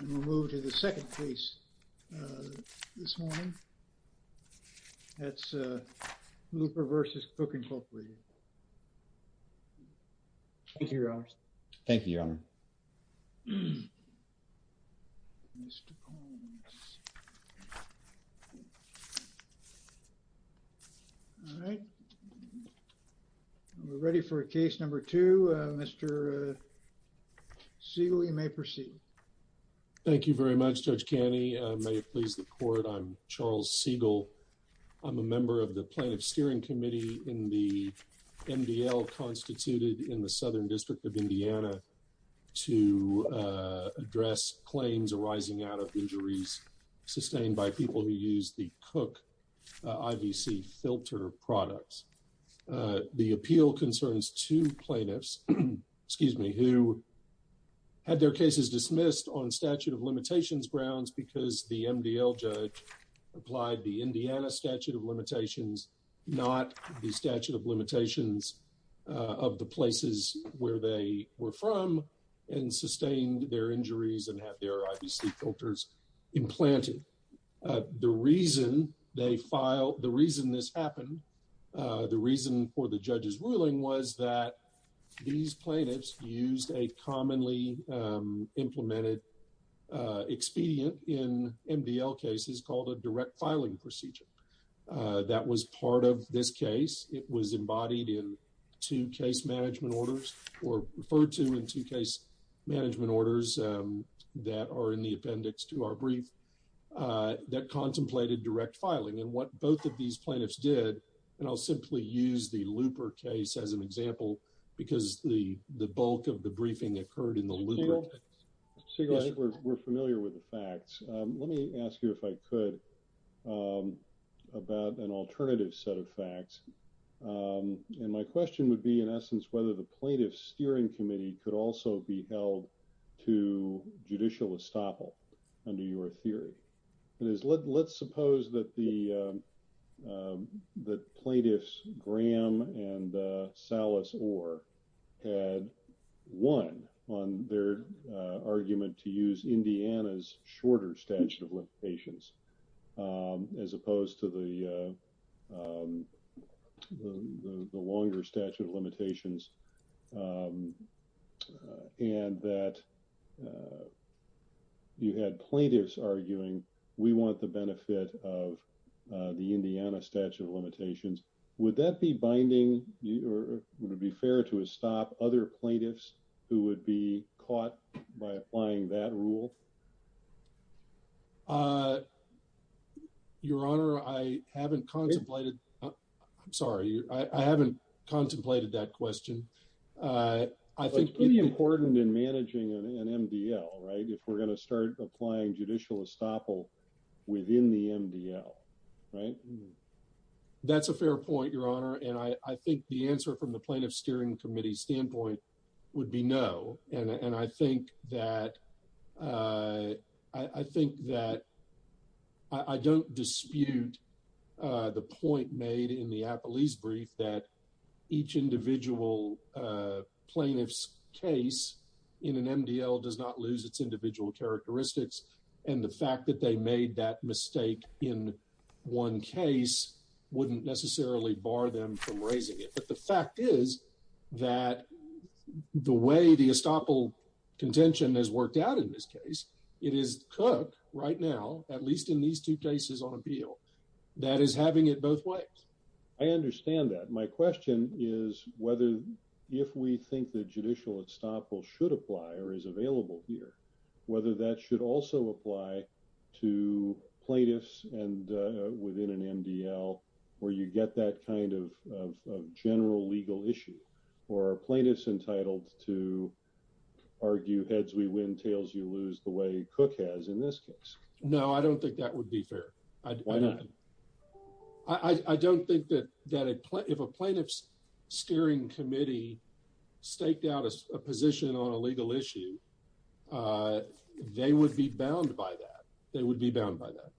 and we'll move to the second case uh this morning that's uh Looper v. Cook Incorporated Thank you your honor. Thank you your honor. Mr. Holmes. All right we're ready for case number two uh Mr. Siegel you may proceed. Thank you very much Judge Caney. May it please the court I'm Charles Siegel. I'm a member of the plaintiff steering committee in the MDL constituted in the southern district of Indiana to address claims arising out of injuries sustained by people who use the Cook IVC filter products. The appeal concerns two plaintiffs excuse me who had their cases dismissed on statute of limitations grounds because the MDL applied the Indiana statute of limitations not the statute of limitations of the places where they were from and sustained their injuries and have their IVC filters implanted. The reason they file the reason this happened uh the reason for the judge's ruling was that these plaintiffs used a commonly implemented expedient in MDL cases called a direct filing procedure that was part of this case. It was embodied in two case management orders or referred to in two case management orders that are in the appendix to our brief that contemplated direct did and I'll simply use the looper case as an example because the the bulk of the briefing occurred in the loop. We're familiar with the facts. Let me ask you if I could about an alternative set of facts and my question would be in essence whether the plaintiff steering committee could also be held to judicial estoppel under your theory. It is let's suppose that the plaintiffs Graham and Salas Orr had won on their argument to use Indiana's shorter statute of limitations as opposed to the longer statute of limitations and that you had plaintiffs arguing we want the benefit of the Indiana statute of limitations. Would that be binding or would it be fair to estop other plaintiffs who would be caught by applying that rule? Uh your honor I haven't contemplated I'm sorry I haven't contemplated that question. Uh I think it's really important in managing an MDL right if we're going to start applying judicial estoppel within the MDL right. That's a fair point your honor and I I think the answer from the plaintiff steering committee standpoint would be no and and I think that uh I I think that I I don't dispute uh the point made in the appellee's brief that each individual uh plaintiff's case in an MDL does not lose its individual characteristics and the fact that they made that mistake in one case wouldn't necessarily bar them from raising it but the fact is that the way the estoppel contention has worked out in this case it is Cook right now at least in these two cases on appeal that is having it both ways. I understand that my question is whether if we think that judicial estoppel should apply or is available here whether that should also apply to plaintiffs and uh within an MDL where you get that kind of of general legal issue or are plaintiffs entitled to argue heads we win tails you lose the way Cook has in this case? No I don't think that would be fair. Why not? I don't think that that if a plaintiff's steering committee staked out a position on a legal issue uh they would be bound by that. They would be bound by that.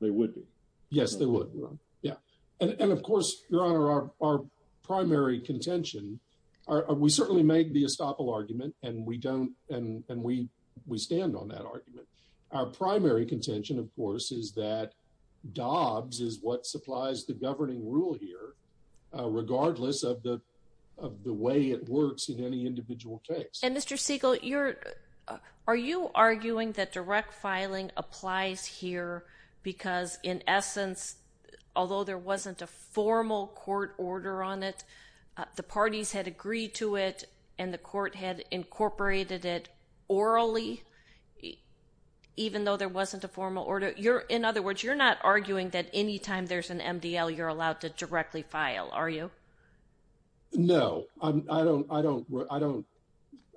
They would be? Yes they would yeah and and of course your honor our our primary contention are we certainly make the estoppel argument and we don't and and we we stand on that argument our primary contention of course is that Dobbs is what supplies the governing rule here regardless of the of the way it works in any individual case. And Mr. Siegel you're are you arguing that direct filing applies here because in essence although there wasn't a formal court order on it the parties had agreed to it and the court had incorporated it orally even though there wasn't a formal order you're in other words you're not arguing that anytime there's an MDL you're allowed to directly file are you? No I don't I don't I don't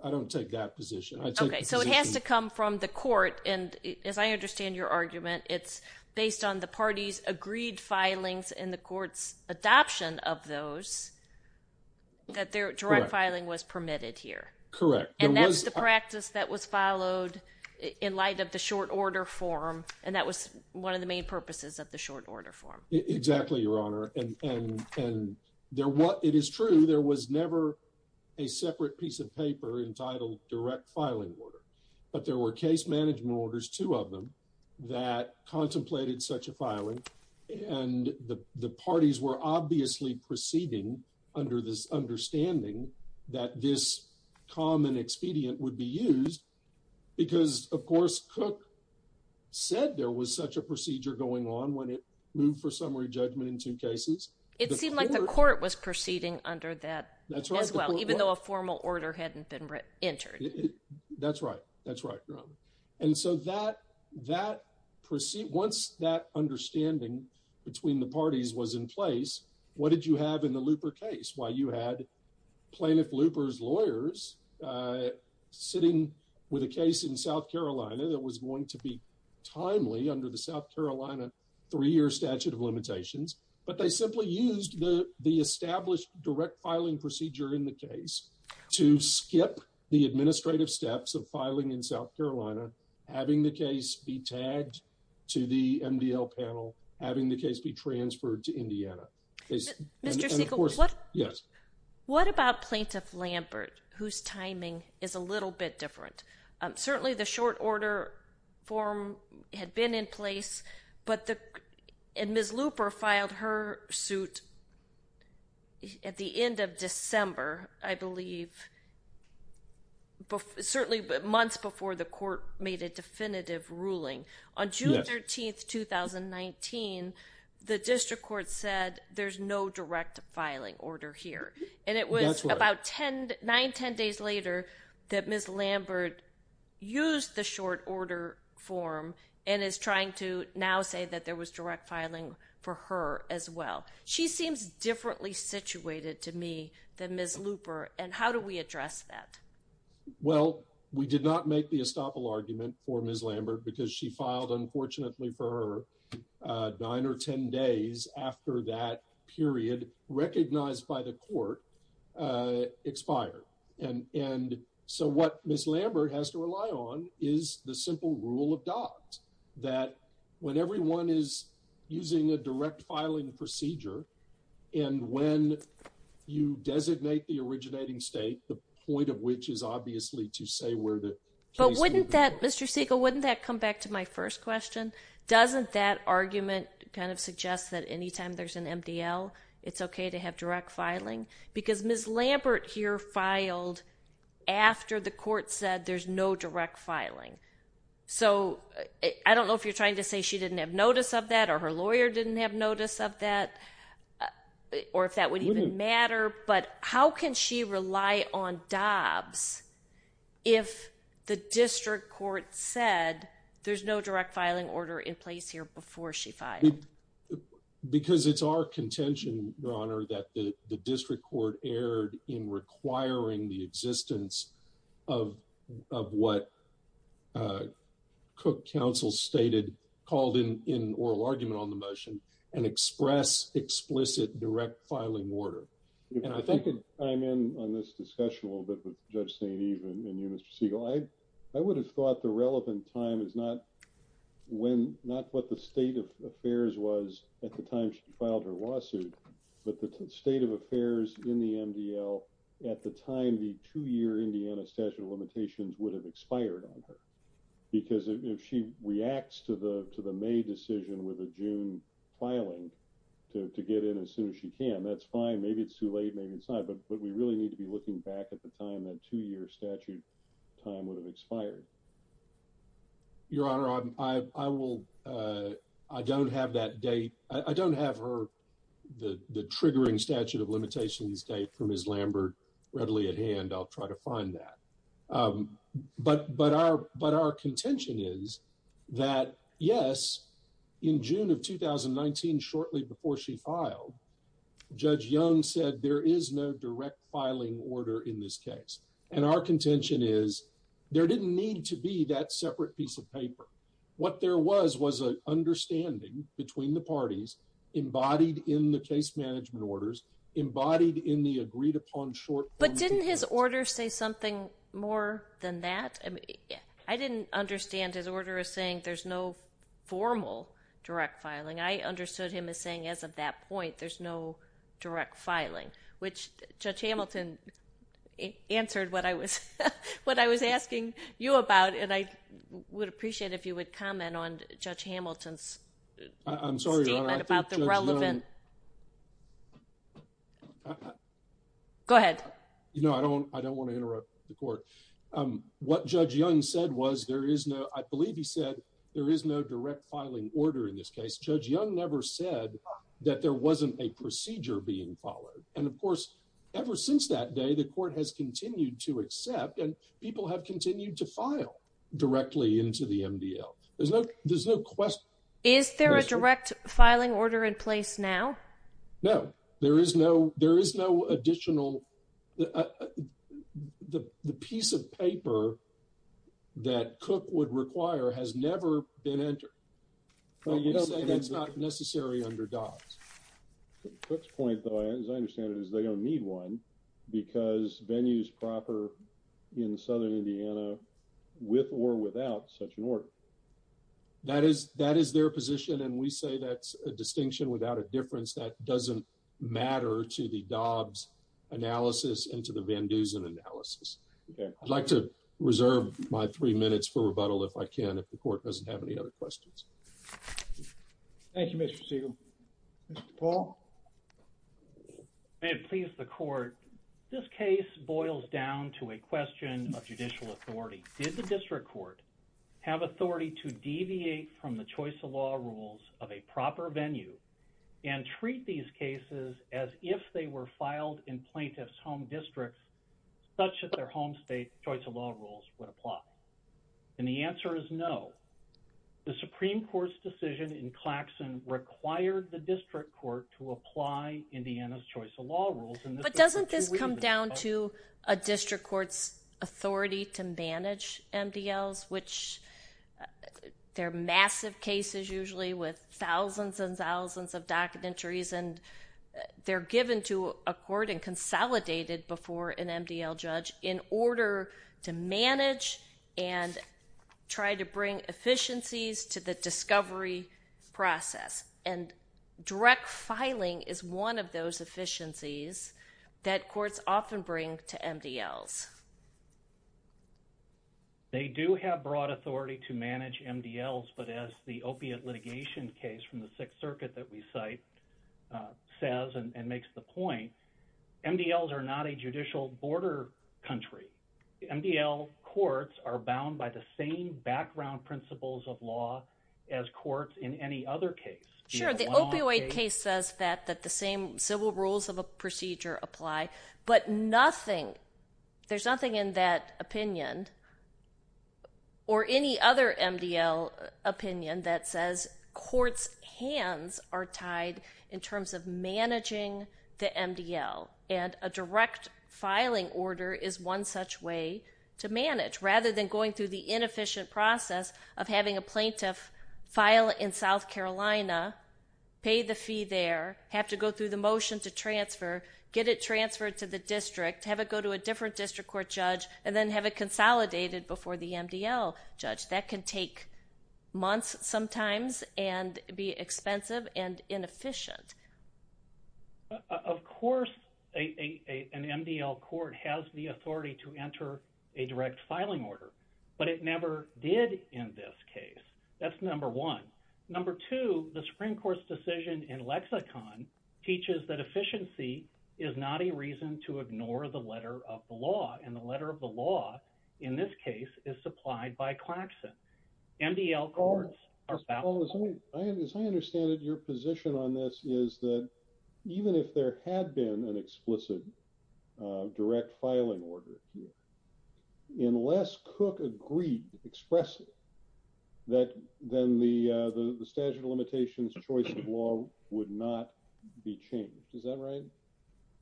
I don't take that position. Okay so it has to come from the court and as I understand your argument it's based on the party's agreed filings in the court's adoption of those that their direct filing was the short order form and that was one of the main purposes of the short order form. Exactly your honor and and and there what it is true there was never a separate piece of paper entitled direct filing order but there were case management orders two of them that contemplated such a filing and the the parties were obviously proceeding under this understanding that this common expedient would be used because of course Cook said there was such a procedure going on when it moved for summary judgment in two cases. It seemed like the court was proceeding under that that's right as well even though a formal order hadn't been written entered. That's right that's right your honor and so that that proceed once that understanding between the parties was in What did you have in the looper case? Why you had plaintiff loopers lawyers sitting with a case in South Carolina that was going to be timely under the South Carolina three-year statute of limitations but they simply used the the established direct filing procedure in the case to skip the administrative steps of filing in South Carolina having the case be tagged to the MDL panel having the case be transferred to Indiana. Mr. Siegel what yes what about plaintiff Lambert whose timing is a little bit different certainly the short order form had been in place but the and Ms. Looper filed her suit at the end of December I believe but certainly but months before the court made a definitive ruling on June 13th 2019 the district court said there's no direct filing order here and it was about 10 9 10 days later that Ms. Lambert used the short order form and is trying to now say that there was direct filing for her as well she seems differently situated to me than Ms. Looper and how do we address that well we did not make the estoppel argument for Ms. Lambert because she filed unfortunately for her nine or ten days after that period recognized by the court expired and and so what Ms. Lambert has to rely on is the simple rule of dogs that when everyone is using a direct filing procedure and when you designate the originating state the point of which is obviously to say where the but wouldn't that Mr. Siegel wouldn't that come back to my first question doesn't that argument kind of suggest that anytime there's an MDL it's okay to have direct filing because Ms. Lambert here filed after the court said there's no direct filing so I don't know if you're trying to say she didn't have notice of that or her lawyer didn't have notice of that or if that would even matter but how can she rely on dobs if the district court said there's no direct filing order in place here before she filed because it's our contention your honor that the district court erred in requiring the existence of of what uh cook council stated called in in oral argument on the motion and express explicit direct filing order and I think I'm in on this discussion a little bit with Judge St. Eve and you Mr. Siegel I I would have thought the relevant time is not when not what the state of affairs was at the time she filed her lawsuit but the state of affairs in the MDL at the time the two-year Indiana statute of limitations would have expired on her because if she reacts to the to the May decision with a June filing to get in as soon as she can that's fine maybe it's too late maybe it's not but but we really need to be looking back at the time that two-year statute time would have expired your honor I I will uh I don't have that date I don't have her the the triggering statute of limitations date from Ms. Lambert readily at hand I'll try to find that um but but our but our contention is that yes in June of 2019 shortly before she filed Judge Young said there is no direct filing order in this case and our contention is there didn't need to be that separate piece of paper what there was was an understanding between the parties embodied in the case management orders embodied in the agreed upon short but didn't his order say something more than that I mean I didn't understand his order is saying there's no formal direct filing I understood him as saying as of that point there's no direct filing which Judge Hamilton answered what I was what I was asking you about and I would appreciate if you would comment on Judge Hamilton's I'm sorry about the relevant go ahead you know I don't I don't want to interrupt the court um what Judge Young said was there is no I believe he said there is no direct filing order in this case Judge Young never said that there wasn't a procedure being followed and of course ever since that day the to file directly into the MDL there's no there's no question is there a direct filing order in place now no there is no there is no additional the the piece of paper that cook would require has never been entered that's not necessary under dogs cook's point though as I understand it is going to need one because venues proper in southern indiana with or without such an order that is that is their position and we say that's a distinction without a difference that doesn't matter to the Dobbs analysis into the Van Dusen analysis okay I'd like to reserve my three minutes for rebuttal if I can if the court doesn't have any other questions thank you Mr. Siegel Mr. Paul may it please the court this case boils down to a question of judicial authority did the district court have authority to deviate from the choice of law rules of a proper venue and treat these cases as if they were filed in plaintiffs home districts such that their home state choice of law rules would apply and the answer is no the supreme court's decision in Claxon required the district court to apply indiana's choice of law rules but doesn't this come down to a district court's authority to manage MDLs which they're massive cases usually with thousands and thousands of docket entries and they're given to a court and consolidated before an MDL judge in order to manage and try to bring efficiencies to the discovery process and direct filing is one of those efficiencies that courts often bring to MDLs they do have broad authority to manage MDLs but as the opiate litigation case from the sixth circuit that we cite says and makes the point MDLs are not a same background principles of law as courts in any other case sure the opioid case says that that the same civil rules of a procedure apply but nothing there's nothing in that opinion or any other MDL opinion that says courts hands are tied in terms of managing the MDL and a direct filing order is one such way to manage rather than going through the inefficient process of having a plaintiff file in South Carolina pay the fee there have to go through the motion to transfer get it transferred to the district have it go to a different district court judge and then have it consolidated before the MDL judge that can take months sometimes and be expensive and inefficient of course a an MDL court has the authority to enter a direct filing order but it never did in this case that's number one number two the Supreme Court's decision in lexicon teaches that efficiency is not a reason to ignore the letter of the law and the letter of the law in this case is supplied by Claxton MDL courts are as I understand it your position on this is that even if there had been an explicit direct filing order unless cook agreed expressly that then the uh the statute of limitations choice of law would not be changed is that right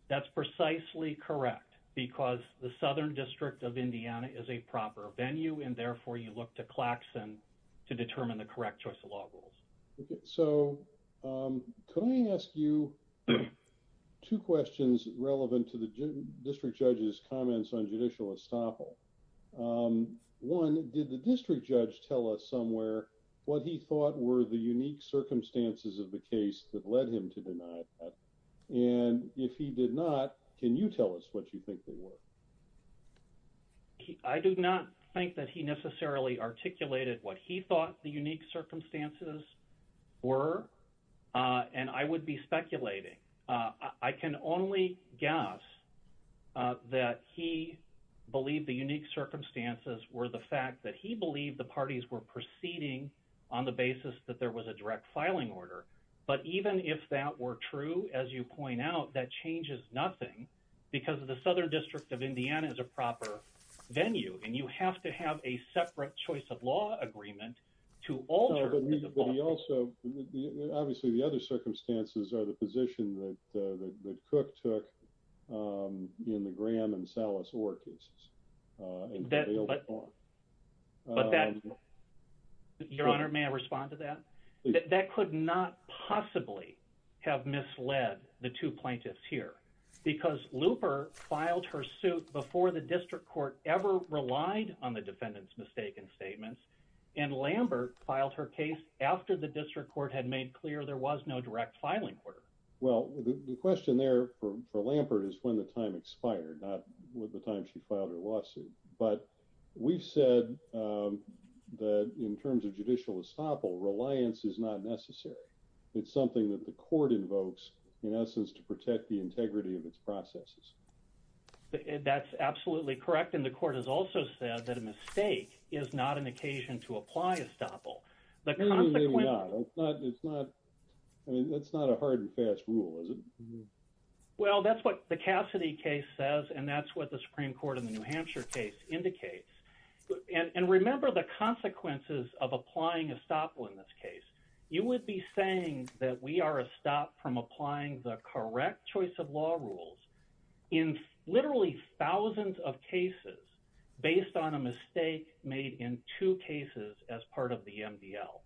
that's precisely correct because the southern district of indiana is a proper venue and therefore you look to Claxton to determine the correct choice of law rules so um can I ask you two questions relevant to the district judge's comments on judicial estoppel um one did the district judge tell us somewhere what he thought were the unique circumstances of the case that led him to deny that and if he did not can you tell us what you think they were I do not think that he necessarily articulated what he thought the unique circumstances were uh and I would be speculating uh I can only guess that he believed the unique circumstances were the fact that he believed the parties were proceeding on the basis that there was a direct filing order but even if that were true as you point out that changes nothing because of the southern district of indiana is a proper venue and you have to have a separate choice of law agreement to alter but he also obviously the other circumstances are the position that uh that cook took um in the graham and sallis orcas uh but but that your honor may respond to that that could not possibly have misled the two plaintiffs here because looper filed her suit before the district court ever relied on the defendant's mistaken statements and lambert filed her case after the district court had made clear there was no direct filing order well the question there for lambert is when the time expired not with the time she filed her but we've said um that in terms of judicial estoppel reliance is not necessary it's something that the court invokes in essence to protect the integrity of its processes that's absolutely correct and the court has also said that a mistake is not an occasion to apply estoppel the consequence it's not I mean that's not a hard and fast rule is it well that's what the new hampshire case indicates and and remember the consequences of applying estoppel in this case you would be saying that we are a stop from applying the correct choice of law rules in literally thousands of cases based on a mistake made in two cases as part of the mdl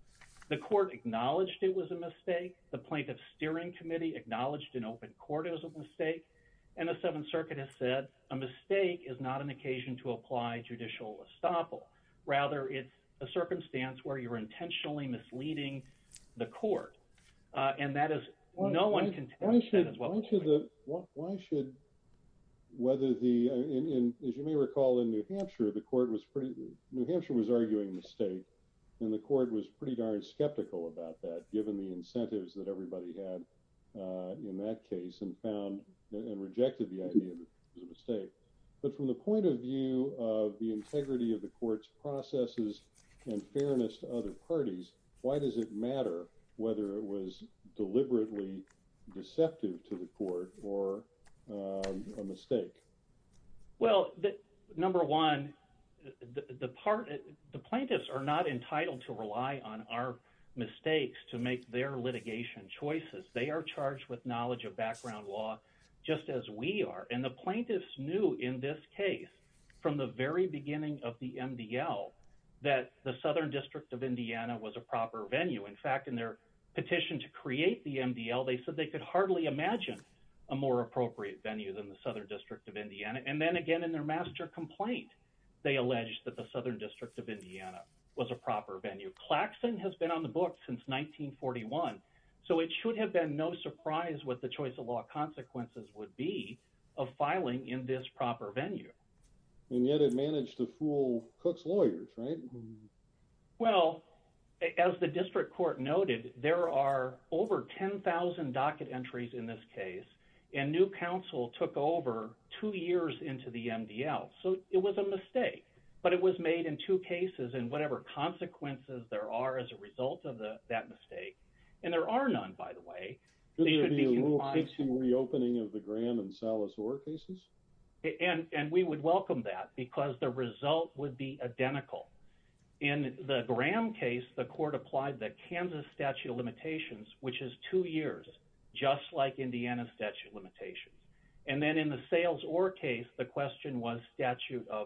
the court acknowledged it was a mistake the plaintiff's steering committee acknowledged in open court it was a mistake and the seventh circuit has said a mistake is not an occasion to apply judicial estoppel rather it's a circumstance where you're intentionally misleading the court uh and that is no one can why should why should whether the in as you may recall in new hampshire the court was pretty new hampshire was arguing mistake and the court was pretty darn skeptical about that given the incentives that everybody had uh in that case and found and rejected the idea that it was a mistake but from the point of view of the integrity of the court's processes and fairness to other parties why does it matter whether it was deliberately deceptive to the court or a mistake well that number one the part the plaintiffs are not entitled to rely on our mistakes to make their litigation choices they are charged with knowledge of background law just as we are and the plaintiffs knew in this case from the very beginning of the mdl that the southern district of indiana was a proper venue in fact in their petition to create the mdl they said they could hardly imagine a more appropriate venue than the southern district of indiana and then again in their master complaint they alleged that the southern district of indiana was a proper venue klaxon has been on the book since 1941 so it should have been no surprise what the choice of law consequences would be of filing in this proper venue and yet it managed to fool cook's lawyers right well as the district court noted there are over 10 000 docket entries in this case and new council took over two years into the mdl so it was a mistake but it was made in two cases and whatever consequences there are as a result of the that mistake and there are none by the way reopening of the graham and sallis or cases and and we would welcome that because the result would be identical in the graham case the court applied the kansas statute of limitations which is two years just like indiana statute of limitations and then in the sales or case the question was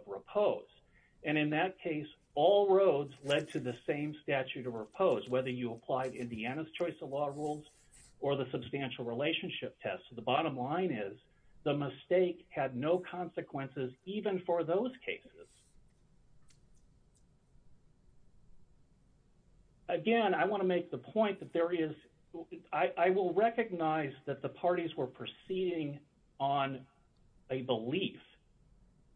repose and in that case all roads led to the same statute of repose whether you applied indiana's choice of law rules or the substantial relationship test the bottom line is the mistake had no consequences even for those cases again i want to make the point that there is i i will recognize that the parties were proceeding on a belief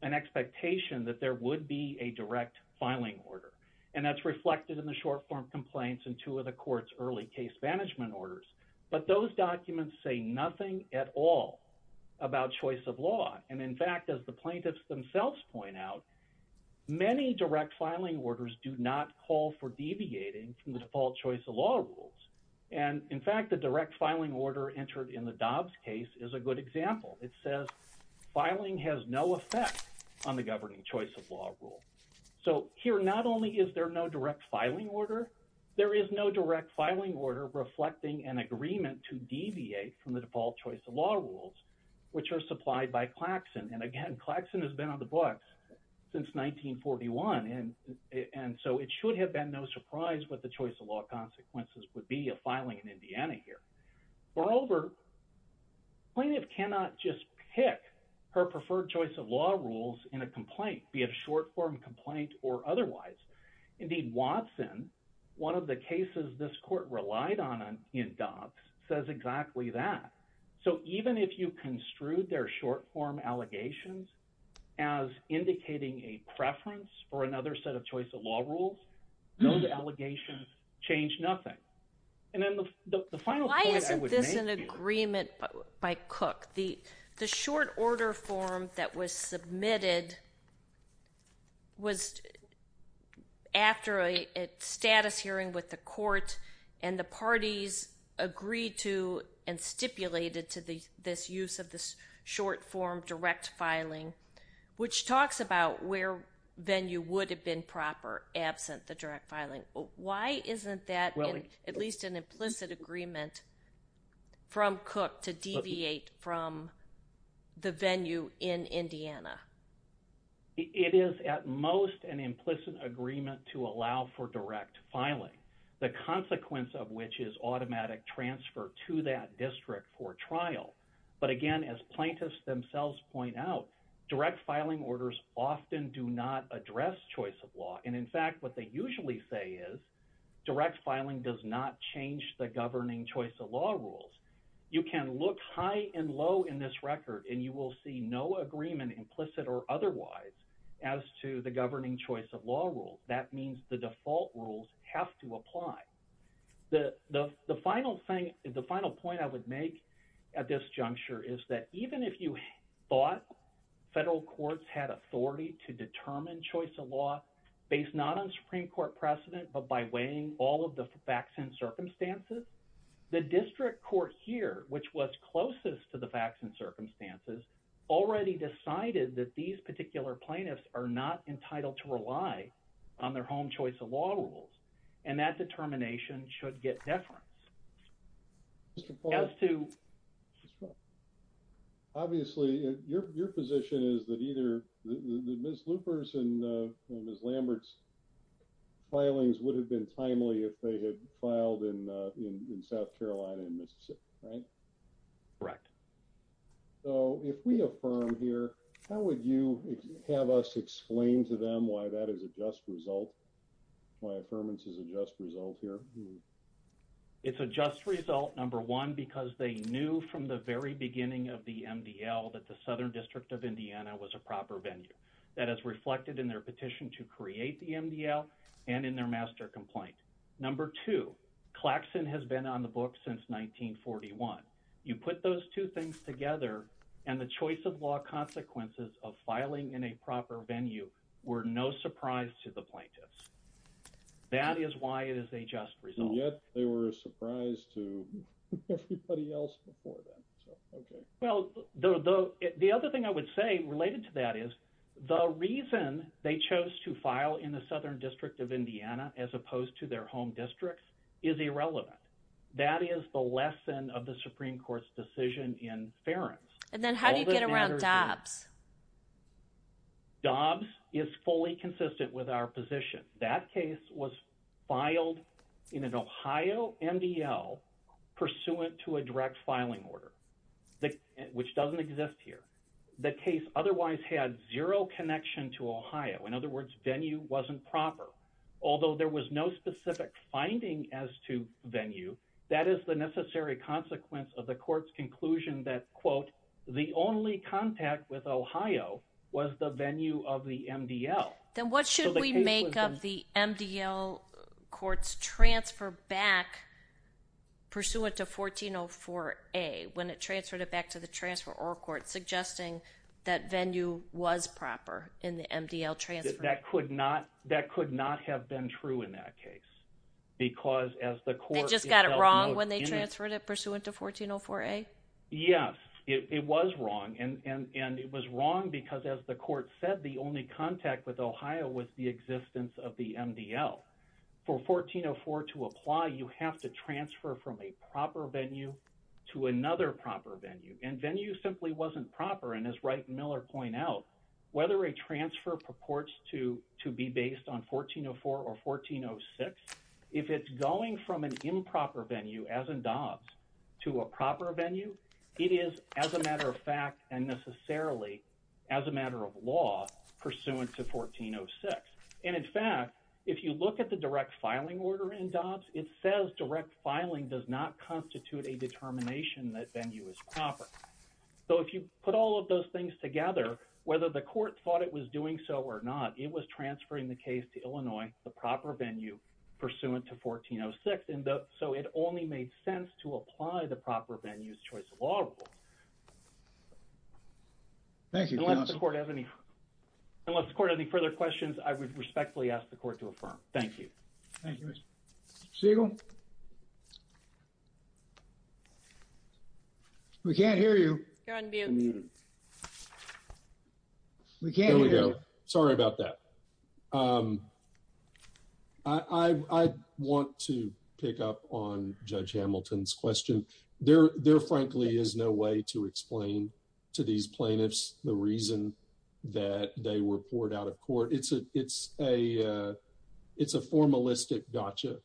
an expectation that there would be a direct filing order and that's reflected in the short-form complaints and two of the court's early case management orders but those documents say nothing at all about choice of law and in fact as the plaintiffs themselves point out many direct filing orders do not call for deviating from the default choice rules and in fact the direct filing order entered in the dobbs case is a good example it says filing has no effect on the governing choice of law rule so here not only is there no direct filing order there is no direct filing order reflecting an agreement to deviate from the default choice of law rules which are supplied by klaxon and again klaxon has been on the books since 1941 and and so it should have been no surprise what the choice of law consequences would be a filing in indiana here moreover plaintiff cannot just pick her preferred choice of law rules in a complaint be it a short-form complaint or otherwise indeed watson one of the cases this court relied on in dobbs says exactly that so even if you construed their short-form allegations as indicating a preference for another set of choice of law rules those allegations change nothing and then the final point isn't this an agreement by cook the the short order form that was submitted was after a status hearing with the court and the parties agreed to and stipulated to the this use of this short form direct filing which talks about where venue would have been proper absent the direct filing why isn't that at least an implicit agreement from cook to deviate from the venue in indiana it is at most an implicit agreement to allow for direct filing the but again as plaintiffs themselves point out direct filing orders often do not address choice of law and in fact what they usually say is direct filing does not change the governing choice of law rules you can look high and low in this record and you will see no agreement implicit or otherwise as to the governing choice of law rules that means the default rules have to apply the the even if you thought federal courts had authority to determine choice of law based not on supreme court precedent but by weighing all of the facts and circumstances the district court here which was closest to the facts and circumstances already decided that these particular plaintiffs are not entitled to rely on their home choice of law rules and that determination should get deference as to obviously your your position is that either the ms loopers and uh ms lambert's filings would have been timely if they had filed in uh in south carolina and mississippi right correct so if we affirm here how would you have us explain to them why that is a just result my affirmance is a just result here it's a just result number one because they knew from the very beginning of the mdl that the southern district of indiana was a proper venue that has reflected in their petition to create the mdl and in their master complaint number two clackson has been on the book since 1941 you put those two things together and the choice of law consequences of filing in a proper venue were no surprise to the plaintiffs that is why it is a just result yet they were a surprise to everybody else before that okay well the the the other thing i would say related to that is the reason they chose to file in the southern district of indiana as opposed to their home districts is irrelevant that is the lesson of the supreme court's decision in fairness and then how do you get around dobs dobs is fully consistent with our position that case was filed in an ohio mdl pursuant to a direct filing order which doesn't exist here the case otherwise had zero connection to ohio in other words venue wasn't proper although there was no specific finding as to venue that is the necessary consequence of the court's conclusion that quote the only contact with ohio was the venue of the mdl then what should we make up the mdl courts transfer back pursuant to 1404a when it transferred it back to the transfer or court suggesting that venue was proper in the mdl transfer that could not that could not have been true in that case because as the court just got it wrong when they transferred it pursuant to 1404a yes it was wrong and and and it was wrong because as the court said the only contact with ohio was the existence of the mdl for 1404 to apply you have to transfer from a proper venue to another proper venue and venue simply wasn't proper and as right miller point out whether a transfer purports to to be based on 1404 or 1406 if it's going from an improper venue as in dobs to a proper venue it is as a matter of fact and necessarily as a matter of law pursuant to 1406 and in fact if you look at the direct filing order in dobs it says direct filing does not constitute a determination that venue is proper so if you put all of those things together whether the court thought it was doing so or not it was transferring the case to illinois the proper venue pursuant to 1406 and so it only made sense to apply the proper venues choice of law thank you unless the court has any unless the court any further questions i would respectfully ask the court to affirm thank you thank you seagull we can't hear you we can't here we go sorry about that um i i want to pick up on judge hamilton's question there there frankly is no way to explain to these plaintiffs the reason that they were gotcha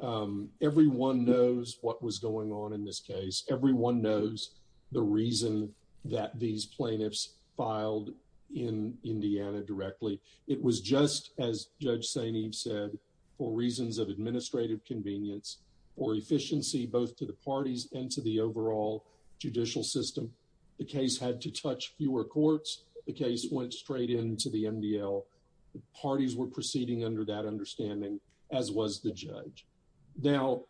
um everyone knows what was going on in this case everyone knows the reason that these plaintiffs filed in indiana directly it was just as judge saini said for reasons of administrative convenience or efficiency both to the parties and to the overall judicial system the case had to touch fewer courts the case went straight into the mdl parties were proceeding under that understanding as was the judge now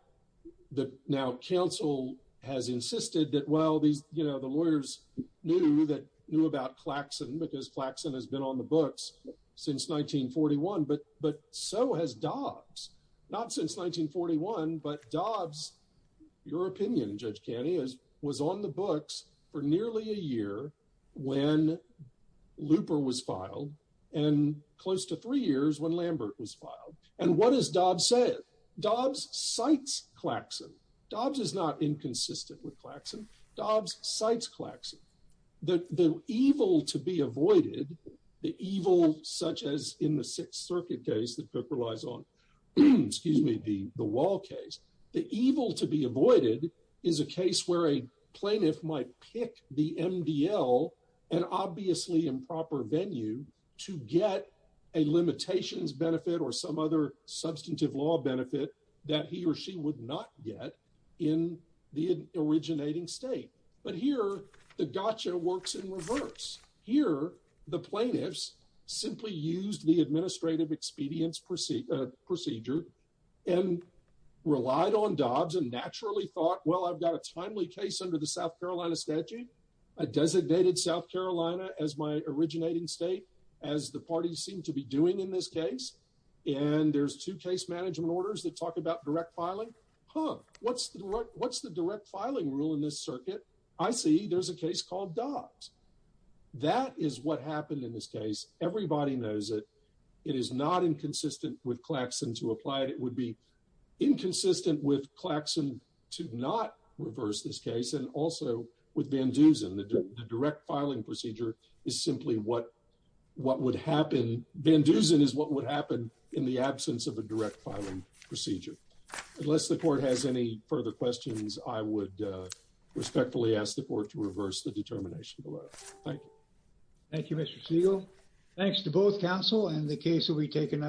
the now council has insisted that well these you know the lawyers knew that knew about klaxon because flaxon has been on the books since 1941 but but so has dobs not since 1941 but dobs your opinion judge canny is was on the books for nearly a year when looper was filed and close to three years when lambert was filed and what does dob said dobs cites klaxon dobs is not inconsistent with klaxon dobs cites klaxon the the evil to be avoided the evil such as in the sixth circuit case that book relies on excuse me the the wall case the plaintiff might pick the mdl an obviously improper venue to get a limitations benefit or some other substantive law benefit that he or she would not get in the originating state but here the gotcha works in reverse here the plaintiffs simply used the administrative expedience proceed procedure and relied on dobs and naturally thought well i've got a timely case under the south carolina statute i designated south carolina as my originating state as the parties seem to be doing in this case and there's two case management orders that talk about direct filing huh what's the what's the direct filing rule in this circuit i see there's a case called dobs that is what it would be inconsistent with klaxon to not reverse this case and also with van duzen the direct filing procedure is simply what what would happen van duzen is what would happen in the absence of a direct filing procedure unless the court has any further questions i would respectfully ask the court to reverse the determination below thank you thank you mr siegel thanks to both counsel and the case will be taken under